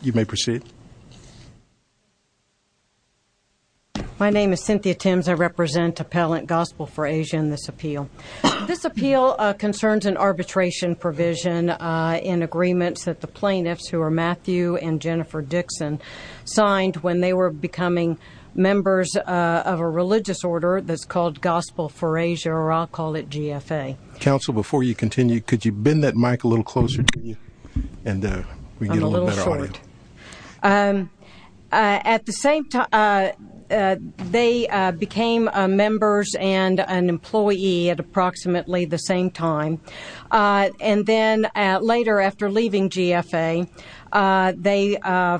You may proceed. My name is Cynthia Timms. I represent Appellant Gospel for ASIA in this appeal. This appeal concerns an arbitration provision in agreements that the plaintiffs, who are Matthew and Jennifer Dickson, signed when they were becoming members of a religious order that's called Gospel for ASIA, or I'll call it GFA. Counsel, before you continue, could you bend that mic a little closer to you? I'm a little short. At the same time, they became members and an employee at approximately the same time. And then later, after leaving GFA, they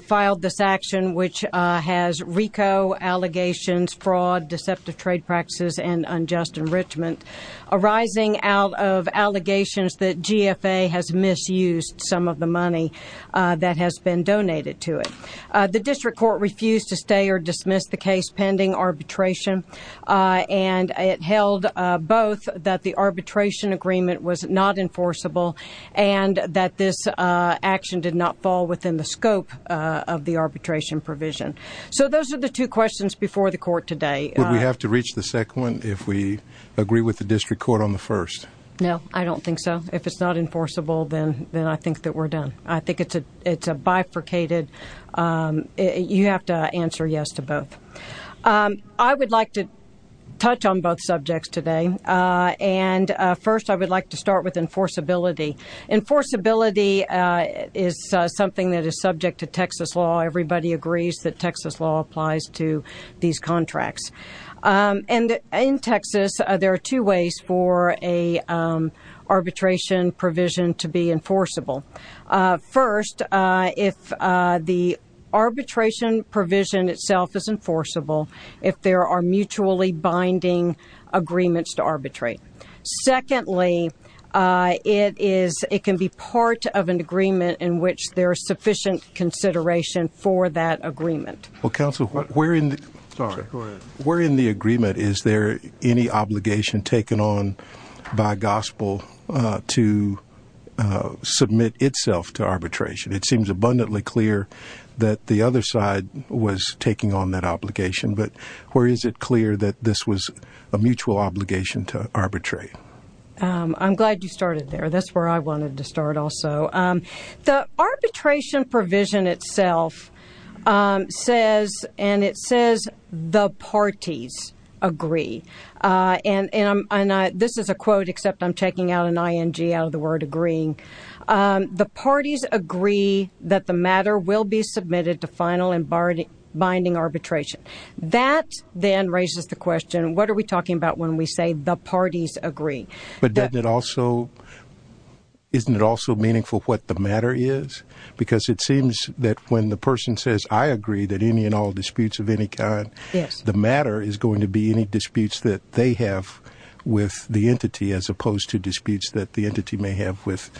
filed this action, which has RICO allegations, fraud, deceptive trade practices, and unjust enrichment, arising out of allegations that GFA has misused some of the money that has been donated to it. The district court refused to stay or dismiss the case pending arbitration. And it held both that the arbitration agreement was not enforceable and that this action did not fall within the scope of the arbitration provision. So those are the two questions before the court today. Would we have to reach the second one if we agree with the district court on the first? No, I don't think so. If it's not enforceable, then I think that we're done. I think it's a bifurcated, you have to answer yes to both. I would like to touch on both subjects today. And first, I would like to start with enforceability. Enforceability is something that is subject to Texas law. Everybody agrees that Texas law applies to these contracts. And in Texas, there are two ways for an arbitration provision to be enforceable. First, if the arbitration provision itself is enforceable, if there are mutually binding agreements to arbitrate. Secondly, it can be part of an agreement in which there is sufficient consideration for that agreement. Well, counsel, where in the agreement is there any obligation taken on by gospel to submit itself to arbitration? It seems abundantly clear that the other side was taking on that obligation, but where is it clear that this was a mutual obligation to arbitrate? I'm glad you started there. That's where I wanted to start also. The arbitration provision itself says, and it says, the parties agree. And this is a quote, except I'm checking out an ING out of the word agreeing. The parties agree that the matter will be submitted to final and binding arbitration. That then raises the question, what are we talking about when we say the parties agree? But isn't it also meaningful what the matter is? Because it seems that when the person says, I agree that any and all disputes of any kind, the matter is going to be any disputes that they have with the entity, as opposed to disputes that the entity may have with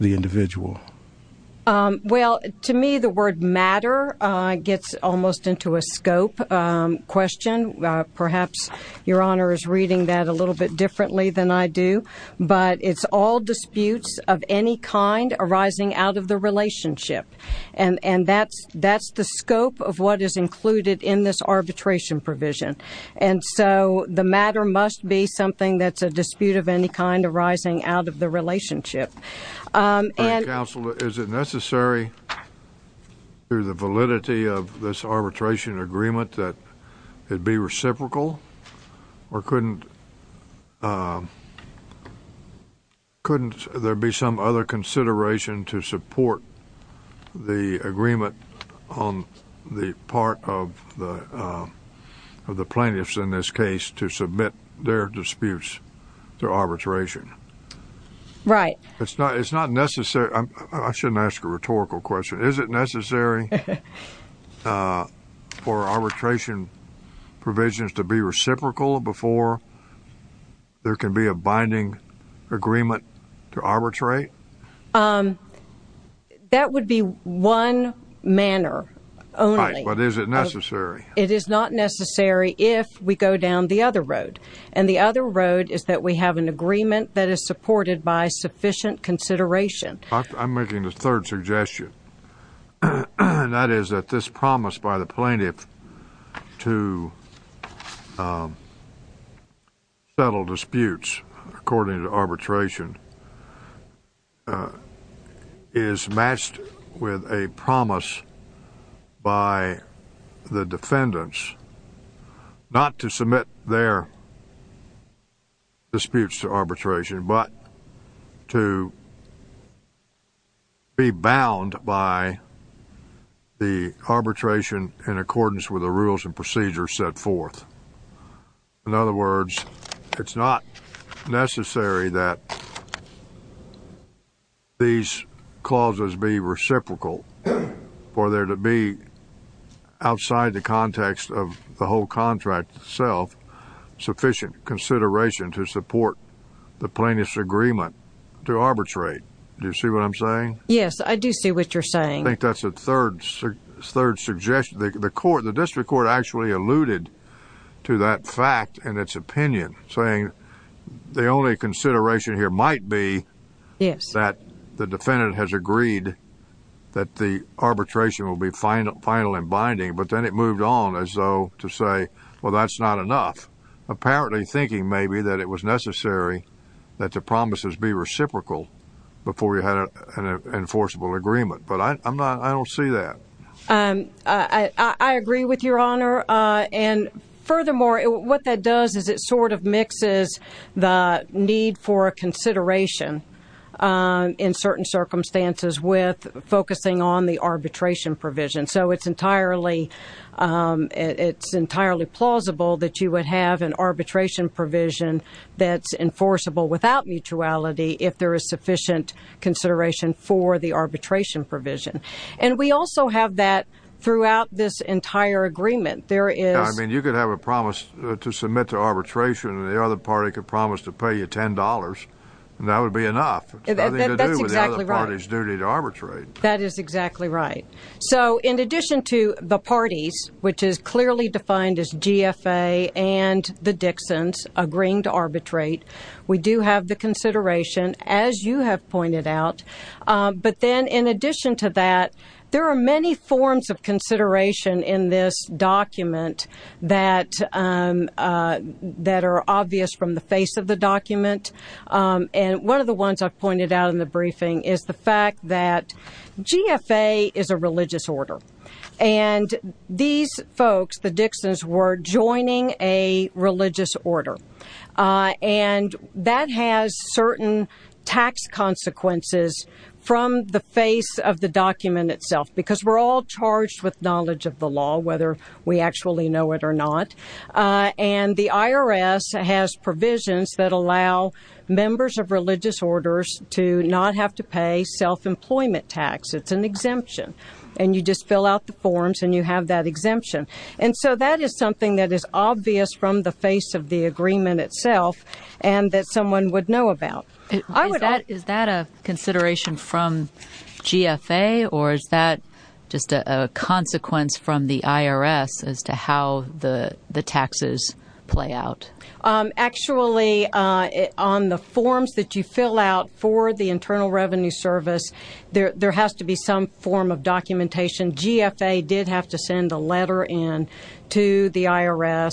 the individual. Well, to me, the word matter gets almost into a scope question. Perhaps your honor is reading that a little bit differently than I do. But it's all disputes of any kind arising out of the relationship. And that's the scope of what is included in this arbitration provision. And so the matter must be something that's a dispute of any kind arising out of the relationship. And- Counsel, is it necessary, through the validity of this arbitration agreement, that it be reciprocal? Or couldn't there be some other consideration to support the agreement on the part of the plaintiffs in this case to submit their disputes to arbitration? Right. It's not necessary. I shouldn't ask a rhetorical question. Is it necessary for arbitration provisions to be reciprocal before there can be a binding agreement to arbitrate? That would be one manner only. But is it necessary? It is not necessary if we go down the other road. And the other road is that we have an agreement that is supported by sufficient consideration. I'm making the third suggestion, and that is that this promise by the plaintiff to settle disputes according to arbitration is matched with a promise by the defendants not to submit their disputes to arbitration, but to be bound by the arbitration in accordance with the rules and procedures set forth. In other words, it's not necessary that these clauses be reciprocal for there to be, outside the context of the whole contract itself, sufficient consideration to support the plaintiff's agreement to arbitrate. Do you see what I'm saying? Yes, I do see what you're saying. I think that's a third suggestion. The district court actually alluded to that fact in its opinion, saying the only consideration here might be that the defendant has agreed that the arbitration will be final and binding, but then it moved on as though to say, well, that's not enough, apparently thinking maybe that it was necessary that the promises be reciprocal before you had an enforceable agreement. But I don't see that. I agree with Your Honor. And furthermore, what that does is it sort of mixes the need for a consideration in certain circumstances with focusing on the arbitration provision. So it's entirely plausible that you would have an arbitration provision that's enforceable without mutuality if there is sufficient consideration for the arbitration provision. And we also have that throughout this entire agreement. I mean, you could have a promise to submit to arbitration, and the other party could promise to pay you $10, and that would be enough. It's nothing to do with the other party's duty to arbitrate. That is exactly right. So in addition to the parties, which is clearly defined as GFA and the Dixons agreeing to arbitrate, we do have the consideration, as you have pointed out. But then in addition to that, there are many forms of consideration in this document that are obvious from the face of the document. And one of the ones I've pointed out in the briefing is the fact that GFA is a religious order. And these folks, the Dixons, were joining a religious order. And that has certain tax consequences from the face of the document itself, because we're all charged with knowledge of the law, whether we actually know it or not. And the IRS has provisions that allow members of religious orders to not have to pay self-employment tax. It's an exemption. And you just fill out the forms, and you have that exemption. And so that is something that is obvious from the face of the agreement itself and that someone would know about. Is that a consideration from GFA, or is that just a consequence from the IRS as to how the taxes play out? Actually, on the forms that you fill out for the Internal Revenue Service, there has to be some form of documentation. GFA did have to send a letter in to the IRS,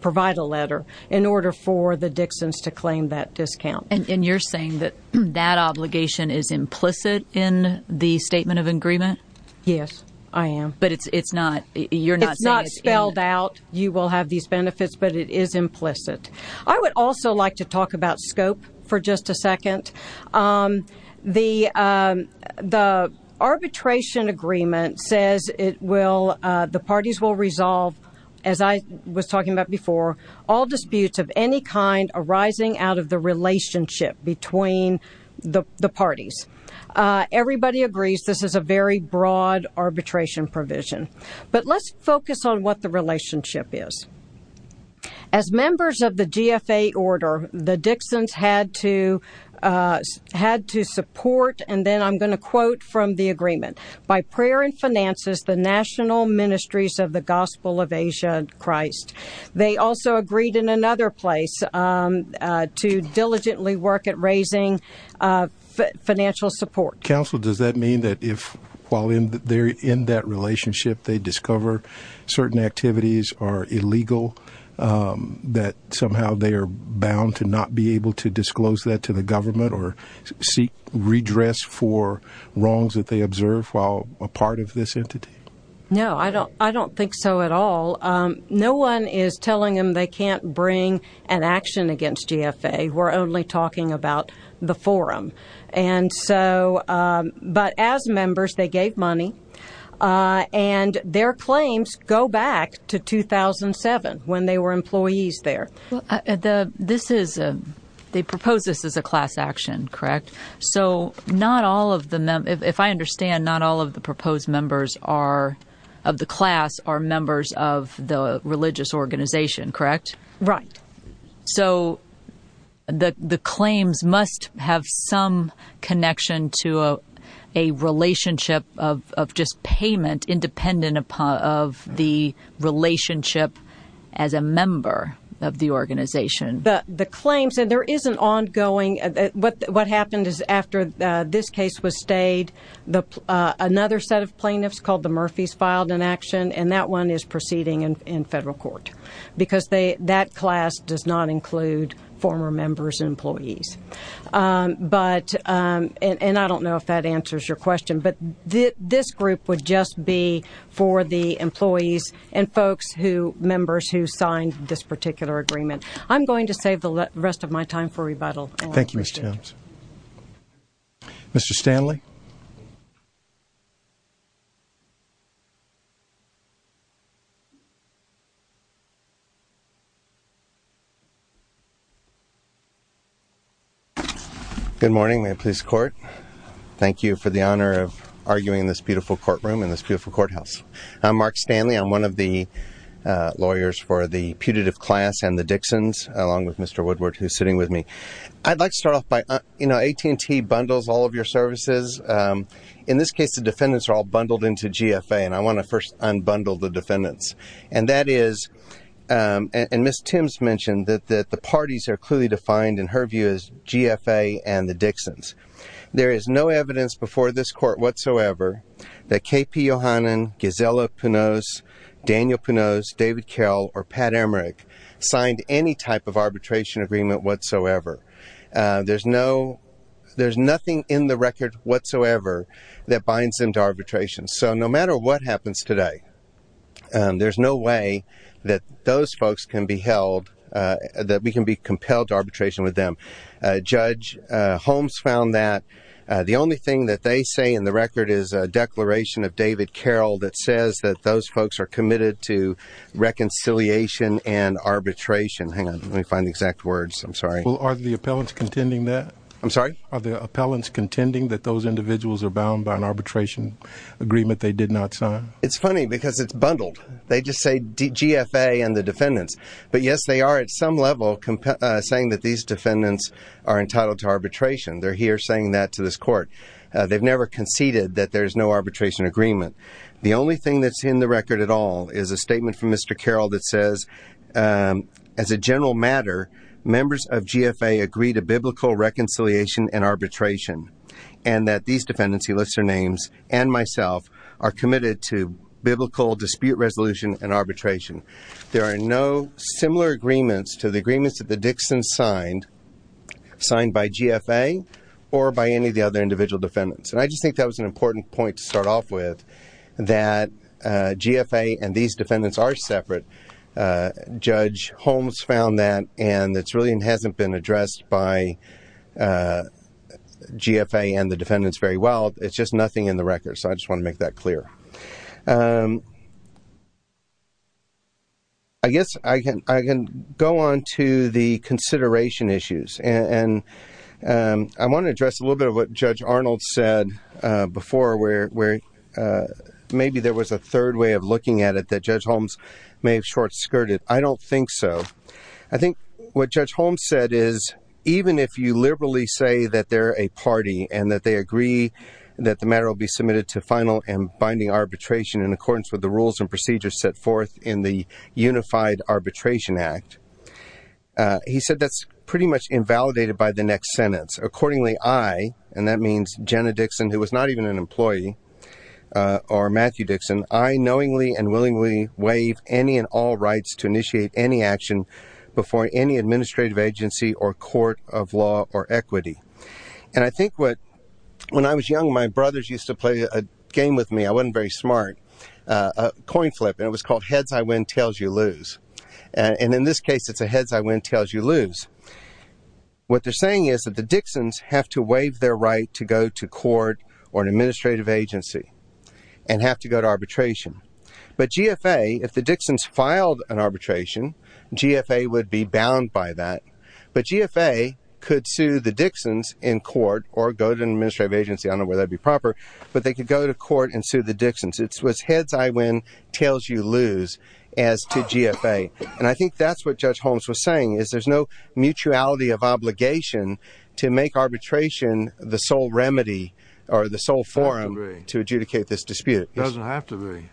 provide a letter, in order for the Dixons to claim that discount. And you're saying that that obligation is implicit in the Statement of Agreement? Yes, I am. But it's not, you're not saying it's in it? It's not spelled out. You will have these benefits, but it is implicit. I would also like to talk about scope for just a second. The arbitration agreement says it will, the parties will resolve, as I was talking about before, all disputes of any kind arising out of the relationship between the parties. Everybody agrees this is a very broad arbitration provision. But let's focus on what the relationship is. As members of the GFA order, the Dixons had to support, and then I'm going to quote from the agreement, by prayer and finances, the national ministries of the Gospel of Asia and Christ. They also agreed in another place to diligently work at raising financial support. Counsel, does that mean that if, while they're in that relationship, they discover certain activities are illegal, that somehow they are bound to not be able to disclose that to the government or seek redress for wrongs that they observe while a part of this entity? No, I don't think so at all. No one is telling them they can't bring an action against GFA. We're only talking about the forum. And so, but as members, they gave money, and their claims go back to 2007, when they were employees there. This is, they propose this as a class action, correct? So not all of the, if I understand, not all of the proposed members are, of the class, are members of the religious organization, correct? Right. So the claims must have some connection to a relationship of just payment, independent of the relationship as a member of the organization. The claims, and there is an ongoing, what happened is after this case was stayed, another set of plaintiffs called the Murphys filed an action, and that one is proceeding in federal court. Because that class does not include former members and employees. But, and I don't know if that answers your question, but this group would just be for the employees and folks who, members who signed this particular agreement. I'm going to save the rest of my time for rebuttal. Thank you, Ms. Timms. Mr. Stanley? Good morning, Maine Police Court. Thank you for the honor of arguing in this beautiful courtroom, in this beautiful courthouse. I'm Mark Stanley. I'm one of the lawyers for the putative class and the Dixons, along with Mr. Woodward, who's sitting with me. I'd like to start off by, you know, AT&T bundles all of your services. In this case, the defendants are all bundled into GFA, and I want to first unbundle the defendants. And that is, and Ms. Timms mentioned that the parties are clearly defined, in her view, as GFA and the Dixons. There is no evidence before this court whatsoever that KP Yohannan, Gisela Punoz, Daniel Punoz, David Carroll, or Pat Emmerich signed any type of arbitration agreement whatsoever. There's no, there's nothing in the record whatsoever that binds them to arbitration. So no matter what happens today, there's no way that those folks can be held, that we can be compelled to arbitration with them. Judge Holmes found that the only thing that they say in the record is a declaration of David Carroll that says that those folks are committed to reconciliation and arbitration. Hang on, let me find the exact words. I'm sorry. Are the appellants contending that? I'm sorry? Are the appellants contending that those individuals are bound by an arbitration agreement they did not sign? It's funny because it's bundled. They just say GFA and the defendants. But yes, they are at some level saying that these defendants are entitled to arbitration. They're here saying that to this court. They've never conceded that there's no arbitration agreement. The only thing that's in the record at all is a statement from Mr. Carroll that says, as a general matter, members of GFA agree to biblical reconciliation and arbitration, and that these defendants, he lists their names, and myself, are committed to biblical dispute resolution and arbitration. There are no similar agreements to the agreements that the Dixon signed by GFA or by any of the other individual defendants. And I just think that was an important point to start off with, that GFA and these defendants are separate. Judge Holmes found that, and it's really hasn't been addressed by GFA and the defendants very well. It's just nothing in the record. So I just want to make that clear. I guess I can go on to the consideration issues. And I want to address a little bit of what Judge Arnold said before, where maybe there was a third way of looking at it that Judge Holmes may have short skirted. I don't think so. I think what Judge Holmes said is, even if you liberally say that they're a party and that they agree that the matter will be submitted to final and binding arbitration in accordance with the rules and procedures set forth in the Unified Arbitration Act, he said that's pretty much invalidated by the next sentence. Accordingly, I, and that means Jenna Dixon, who was not even an employee, or Matthew Dixon, I knowingly and willingly waive any and all rights to initiate any action before any administrative agency or court of law or equity. And I think what, when I was young, my brothers used to play a game with me, I wasn't very smart, a coin flip, and it was called heads I win, tails you lose. And in this case, it's a heads I win, tails you lose. What they're saying is that the Dixons have to waive their right to go to court or an administrative agency and have to go to arbitration. But GFA, if the Dixons filed an arbitration, GFA would be bound by that. But GFA could sue the Dixons in court or go to an administrative agency, I don't know whether that'd be proper, but they could go to court and sue the Dixons. It was heads I win, tails you lose, as to GFA. And I think that's what Judge Holmes was saying, is there's no mutuality of obligation to make arbitration the sole remedy or the sole forum to adjudicate this dispute. It doesn't have to be.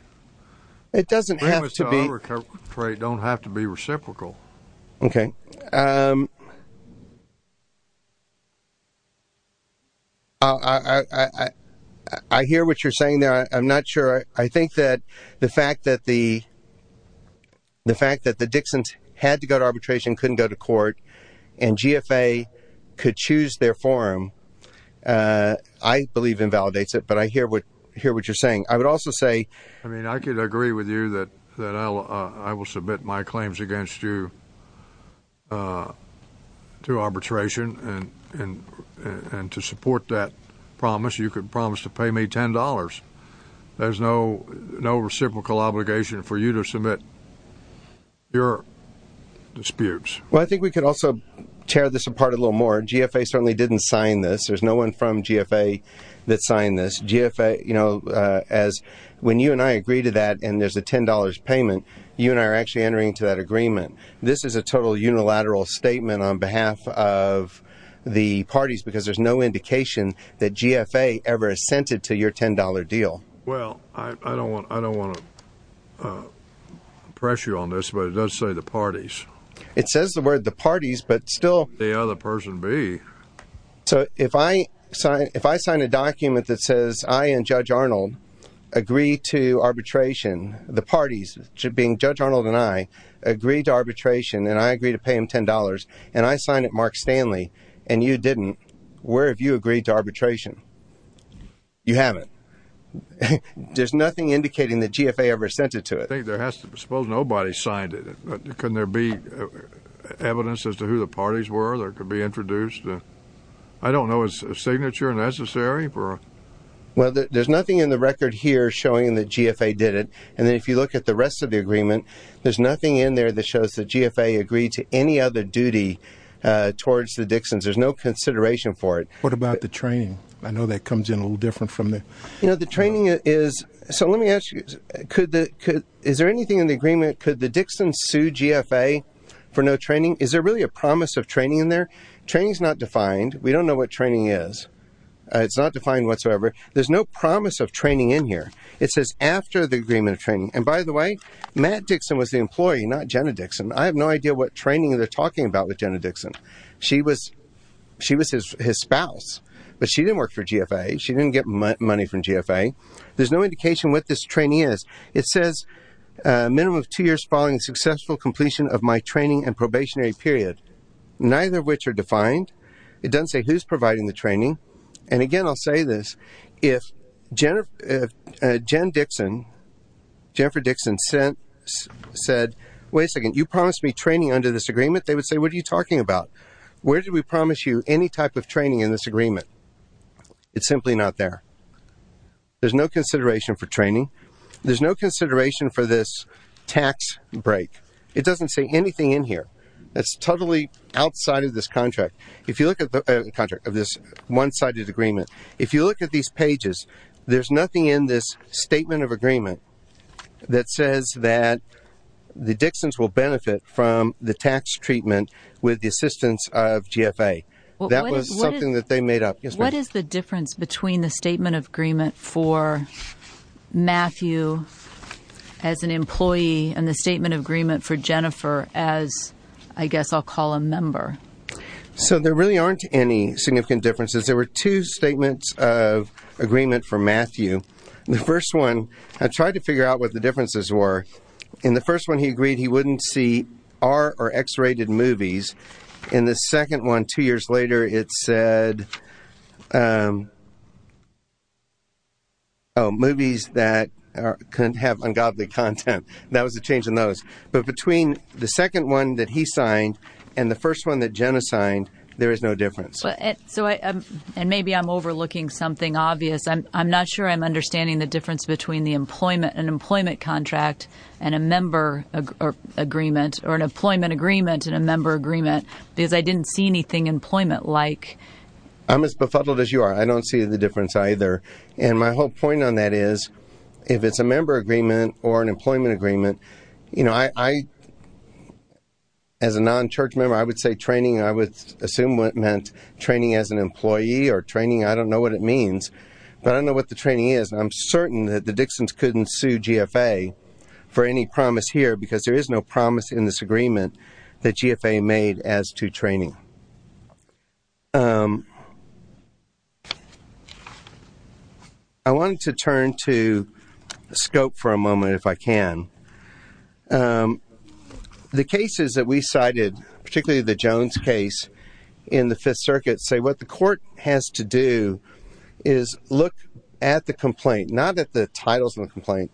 It doesn't have to be. Arbitration don't have to be reciprocal. Okay. I hear what you're saying there. I'm not sure. I think that the fact that the Dixons had to go to arbitration, couldn't go to court, and GFA could choose their forum, I believe invalidates it. But I hear what you're saying. I would also say- I mean, I could agree with you that I will submit my claims against you to arbitration and to support that promise. You could promise to pay me $10. There's no reciprocal obligation for you to submit your disputes. Well, I think we could also tear this apart a little more. GFA certainly didn't sign this. There's no one from GFA that signed this. GFA, you know, when you and I agree to that and there's a $10 payment, you and I are actually entering into that agreement. This is a total unilateral statement on behalf of the parties because there's no indication that GFA ever assented to your $10 deal. Well, I don't want to press you on this, but it does say the parties. It says the word the parties, but still- The other person be. So if I sign a document that says I and Judge Arnold agree to arbitration, the parties, being Judge Arnold and I, agree to arbitration and I agree to pay him $10 and I sign it Mark Stanley and you didn't, where have you agreed to arbitration? You haven't. There's nothing indicating that GFA ever assented to it. I think there has to be. Suppose nobody signed it. Couldn't there be evidence as to who the parties were that could be introduced? I don't know. Is a signature necessary for- Well, there's nothing in the record here showing that GFA did it. And then if you look at the rest of the agreement, there's nothing in there that shows that GFA agreed to any other duty towards the Dixons. There's no consideration for it. What about the training? I know that comes in a little different from the- You know, the training is, so let me ask you, is there anything in the agreement, could the Dixons sue GFA for no training? Is there really a promise of training in there? Training's not defined. We don't know what training is. It's not defined whatsoever. There's no promise of training in here. It says after the agreement of training. And by the way, Matt Dixon was the employee, not Jenna Dixon. I have no idea what training they're talking about with Jenna Dixon. She was his spouse, but she didn't work for GFA. She didn't get money from GFA. There's no indication what this training is. It says a minimum of two years following the successful completion of my training and probationary period, neither of which are defined. It doesn't say who's providing the training. And again, I'll say this, if Jennifer Dixon said, wait a second, you promised me training under this agreement. They would say, what are you talking about? Where did we promise you any type of training in this agreement? It's simply not there. There's no consideration for training. There's no consideration for this tax break. It doesn't say anything in here. That's totally outside of this contract. If you look at the contract of this one-sided agreement, if you look at these pages, there's nothing in this statement of agreement that says that the Dixons will benefit from the tax treatment with the assistance of GFA. That was something that they made up. Yes, ma'am. What is the difference between the statement of agreement for Matthew as an employee and the statement of agreement for Jennifer as I guess I'll call a member? So there really aren't any significant differences. There were two statements of agreement for Matthew. The first one, I tried to figure out what the differences were. In the first one, he agreed he wouldn't see R or X rated movies. In the second one, two years later, it said, oh, movies that couldn't have ungodly content. That was the change in those. But between the second one that he signed and the first one that Jenna signed, there is no difference. And maybe I'm overlooking something obvious. I'm not sure I'm understanding the difference between an employment contract and a member agreement or an employment agreement and a member agreement because I didn't see anything employment-like. I'm as befuddled as you are. I don't see the difference either. And my whole point on that is if it's a member agreement or an employment agreement, I, as a non-church member, I would say training. I would assume what meant training as an employee or training. I don't know what it means, but I don't know what the training is. I'm certain that the Dixons couldn't sue GFA for any promise here because there is no promise in this agreement that GFA made as to training. I wanted to turn to scope for a moment if I can. The cases that we cited, particularly the Jones case in the Fifth Circuit, say what the court has to do is look at the complaint, not at the titles of the complaint.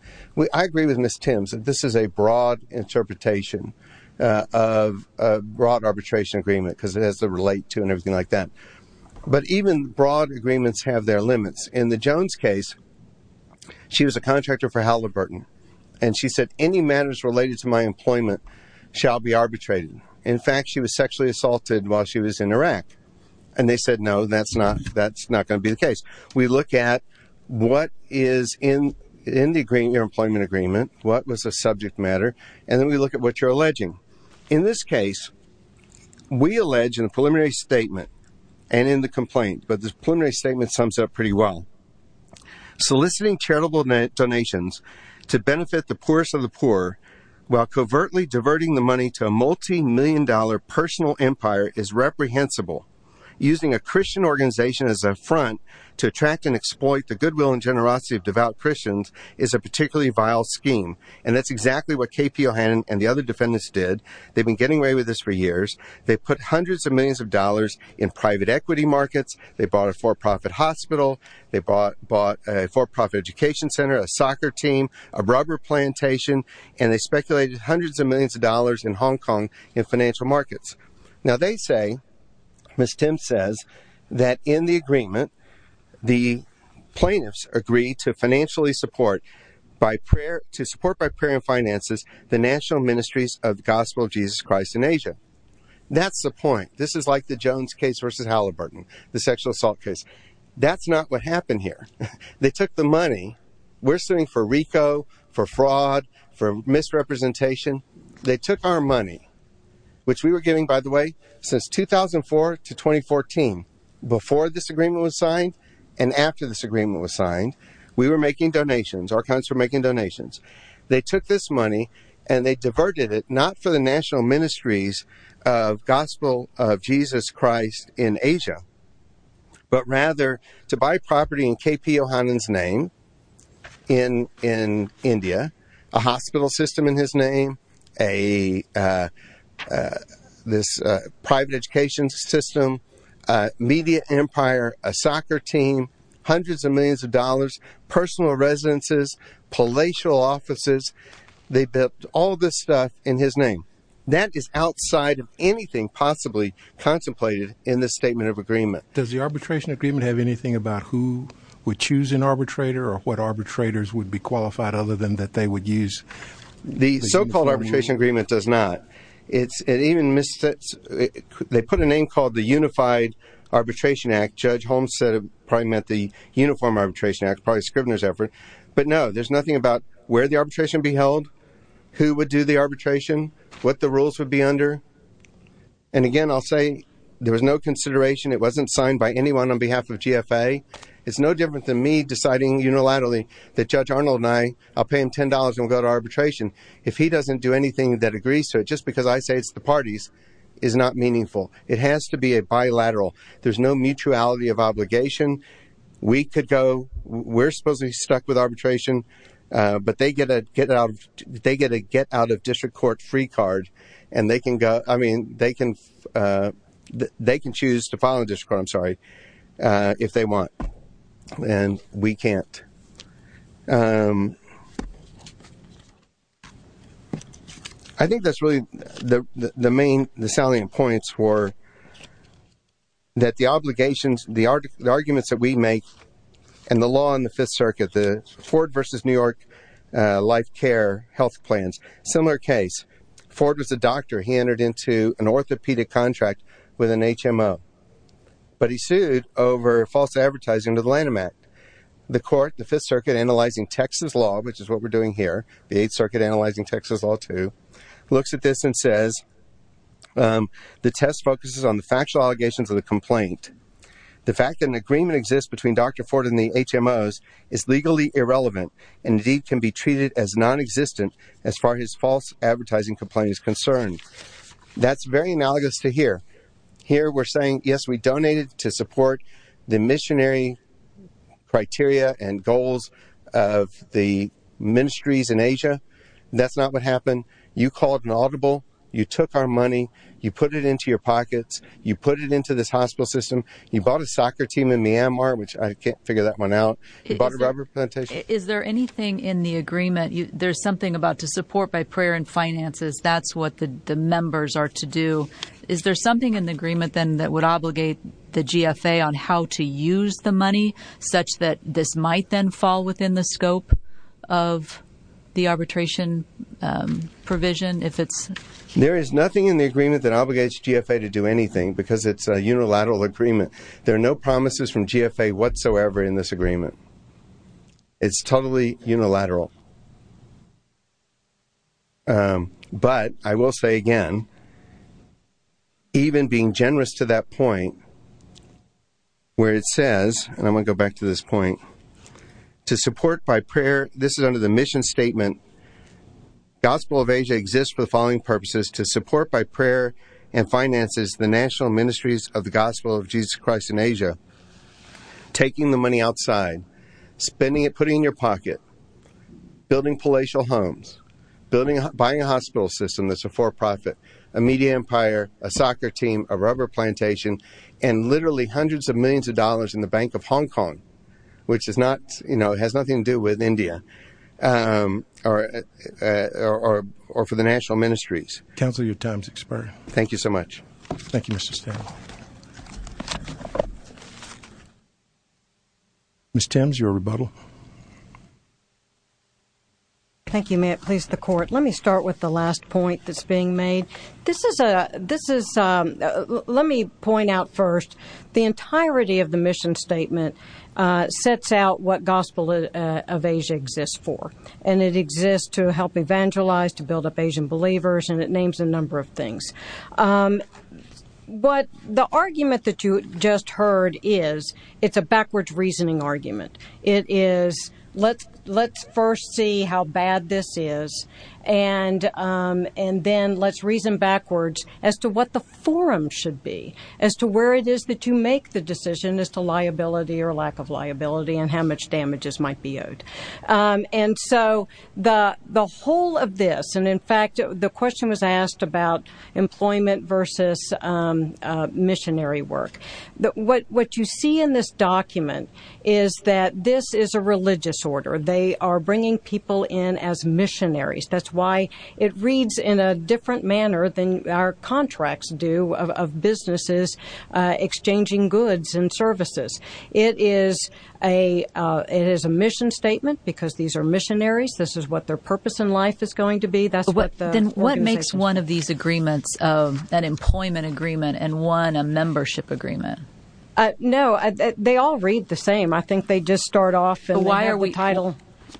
I agree with Ms. Timms that this is a broad interpretation of a broad arbitration agreement because it has to relate to and everything like that. But even broad agreements have their limits. In the Jones case, she was a contractor for Halliburton. And she said, any matters related to my employment shall be arbitrated. In fact, she was sexually assaulted while she was in Iraq. And they said, no, that's not going to be the case. We look at what is in the agreement, your employment agreement, what was the subject matter. And then we look at what you're alleging. In this case, we allege in a preliminary statement and in the complaint, but this preliminary statement sums up pretty well. Soliciting charitable donations to benefit the poorest of the poor while covertly diverting the money to a multi-million dollar personal empire is reprehensible. Using a Christian organization as a front to attract and exploit the goodwill and generosity of devout Christians is a particularly vile scheme. And that's exactly what KP O'Hanlon and the other defendants did. They've been getting away with this for years. They put hundreds of millions of dollars in private equity markets. They bought a for-profit hospital. They bought a for-profit education center, a soccer team, a rubber plantation, and they speculated hundreds of millions of dollars in Hong Kong in financial markets. Now they say, Ms. Tim says, that in the agreement, the plaintiffs agree to financially support by prayer, to support by prayer and finances, the national ministries of the gospel of Jesus Christ in Asia. That's the point. This is like the Jones case versus Halliburton, the sexual assault case. That's not what happened here. They took the money. We're suing for RICO, for fraud, for misrepresentation. They took our money, which we were giving, by the way, since 2004 to 2014, before this agreement was signed. And after this agreement was signed, we were making donations. Our accounts were making donations. They took this money and they diverted it, not for the national ministries of gospel of Jesus Christ in Asia, but rather to buy property in KP O'Hanlon's name, in India, a hospital system in his name, this private education system, media empire, a soccer team, hundreds of millions of dollars, personal residences, palatial offices. They built all this stuff in his name. That is outside of anything possibly contemplated in this statement of agreement. Does the arbitration agreement have anything about who would choose an arbitrator or what arbitrators would be qualified, other than that they would use? The so-called arbitration agreement does not. They put a name called the Unified Arbitration Act. Judge Holmes said it probably meant the Uniform Arbitration Act, probably Scrivener's effort. But no, there's nothing about where the arbitration be held, who would do the arbitration, what the rules would be under. And again, I'll say there was no consideration. It wasn't signed by anyone on behalf of GFA. It's no different than me deciding, that Judge Arnold and I, I'll pay him $10 and we'll go to arbitration. If he doesn't do anything that agrees to it, just because I say it's the parties, is not meaningful. It has to be a bilateral. There's no mutuality of obligation. We could go, we're supposed to be stuck with arbitration, but they get a get-out-of-district-court-free card. They can choose to file in the district court, I'm sorry, if they want. And we can't. I think that's really the main, the salient points were, that the obligations, the arguments that we make, and the law in the Fifth Circuit, the Ford versus New York life care health plans, similar case. Ford was a doctor. He entered into an orthopedic contract with an HMO, but he sued over false advertising to the Lanham Act. The court, the Fifth Circuit, analyzing Texas law, which is what we're doing here, the Eighth Circuit analyzing Texas law too, looks at this and says, the test focuses on the factual allegations of the complaint. The fact that an agreement exists between Dr. Ford and the HMOs is legally irrelevant, and indeed can be treated as non-existent as far as false advertising complaint is concerned. That's very analogous to here. Here we're saying, yes, we donated to support the missionary criteria and goals of the ministries in Asia. That's not what happened. You called an audible. You took our money. You put it into your pockets. You put it into this hospital system. You bought a soccer team in Myanmar, which I can't figure that one out. You bought a rubber plantation. Is there anything in the agreement, there's something about to support by prayer and finances. That's what the members are to do. Is there something in the agreement then that would obligate the GFA on how to use the money such that this might then fall within the scope of the arbitration provision? There is nothing in the agreement that obligates GFA to do anything because it's a unilateral agreement. There are no promises from GFA whatsoever in this agreement. It's totally unilateral. But I will say again, even being generous to that point where it says, and I'm going to go back to this point, to support by prayer. This is under the mission statement. Gospel of Asia exists for the following purposes to support by prayer and finances, the national ministries of the gospel of Jesus Christ in Asia, taking the money outside, spending it, putting it in your pocket, building palatial homes, buying a hospital system that's a for-profit, a media empire, a soccer team, a rubber plantation, and literally hundreds of millions of dollars in the Bank of Hong Kong, which has nothing to do with India or for the national ministries. Counselor, your time's expired. Thank you so much. Thank you, Mr. Stam. Ms. Thames, your rebuttal. Thank you. May it please the court. Let me start with the last point that's being made. This is, let me point out first, the entirety of the mission statement sets out what gospel of Asia exists for, and it exists to help evangelize, to build up Asian believers, and it names a number of things. But the argument that you just heard is, it's a backwards reasoning argument. It is, let's first see how bad this is, and then let's reason backwards as to what the forum should be, as to where it is that you make the decision as to liability or lack of liability and how much damages might be owed. And so the whole of this, and in fact, the question was asked about employment versus missionary work. What you see in this document is that this is a religious order. They are bringing people in as missionaries. That's why it reads in a different manner than our contracts do of businesses exchanging goods and services. It is a mission statement because these are missionaries. This is what their purpose in life is going to be. That's what the organization says. Then what makes one of these agreements of an employment agreement and one a membership agreement? No, they all read the same. I think they just start off and they have the title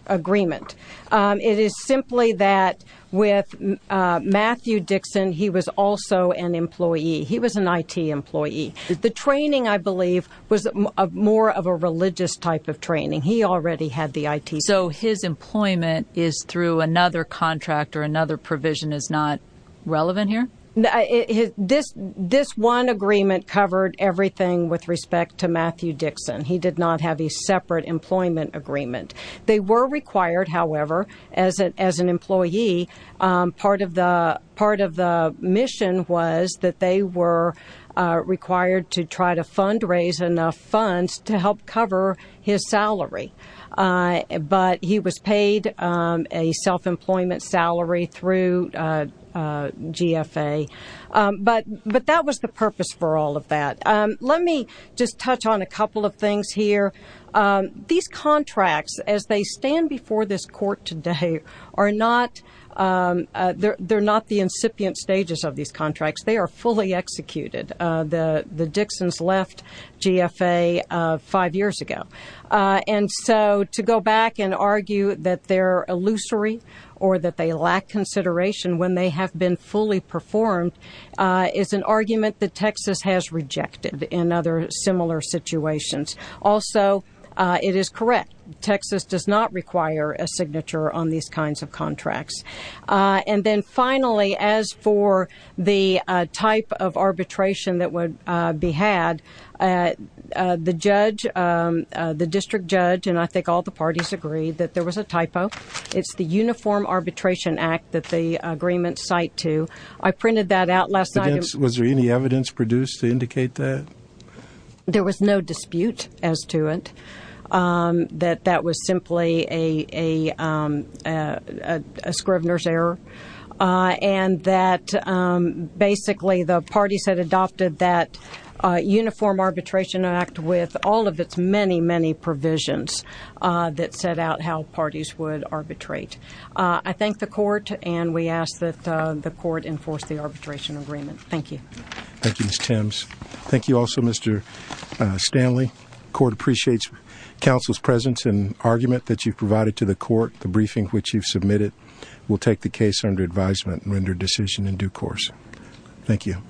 agreement. It is simply that with Matthew Dixon, he was also an employee. He was an IT employee. The training, I believe, was more of a religious type of training. He already had the IT. So his employment is through another contract or another provision is not relevant here? This one agreement covered everything with respect to Matthew Dixon. He did not have a separate employment agreement. They were required, however, as an employee, part of the mission was that they were required to try to fundraise enough funds to help cover his salary. But he was paid a self-employment salary through GFA. But that was the purpose for all of that. Let me just touch on a couple of things here. These contracts, as they stand before this court today, they're not the incipient stages of these contracts. They are fully executed. The Dixons left GFA five years ago. And so to go back and argue that they're illusory or that they lack consideration when they have been fully performed is an argument that Texas has rejected in other similar situations. Also, it is correct. Texas does not require a signature on these kinds of contracts. And then finally, as for the type of arbitration that would be had, the judge, the district judge, and I think all the parties agreed that there was a typo. It's the Uniform Arbitration Act that the agreement cite to. I printed that out last night. Was there any evidence produced to indicate that? There was no dispute as to it, that that was simply a scrivener's error and that basically the parties had adopted that Uniform Arbitration Act with all of its many, many provisions that set out how parties would arbitrate. I thank the court. And we ask that the court enforce the arbitration agreement. Thank you. Thank you, Ms. Timms. Thank you also, Mr. Stanley. Court appreciates counsel's presence and argument that you've provided to the court. The briefing which you've submitted will take the case under advisement and render decision in due course. Thank you.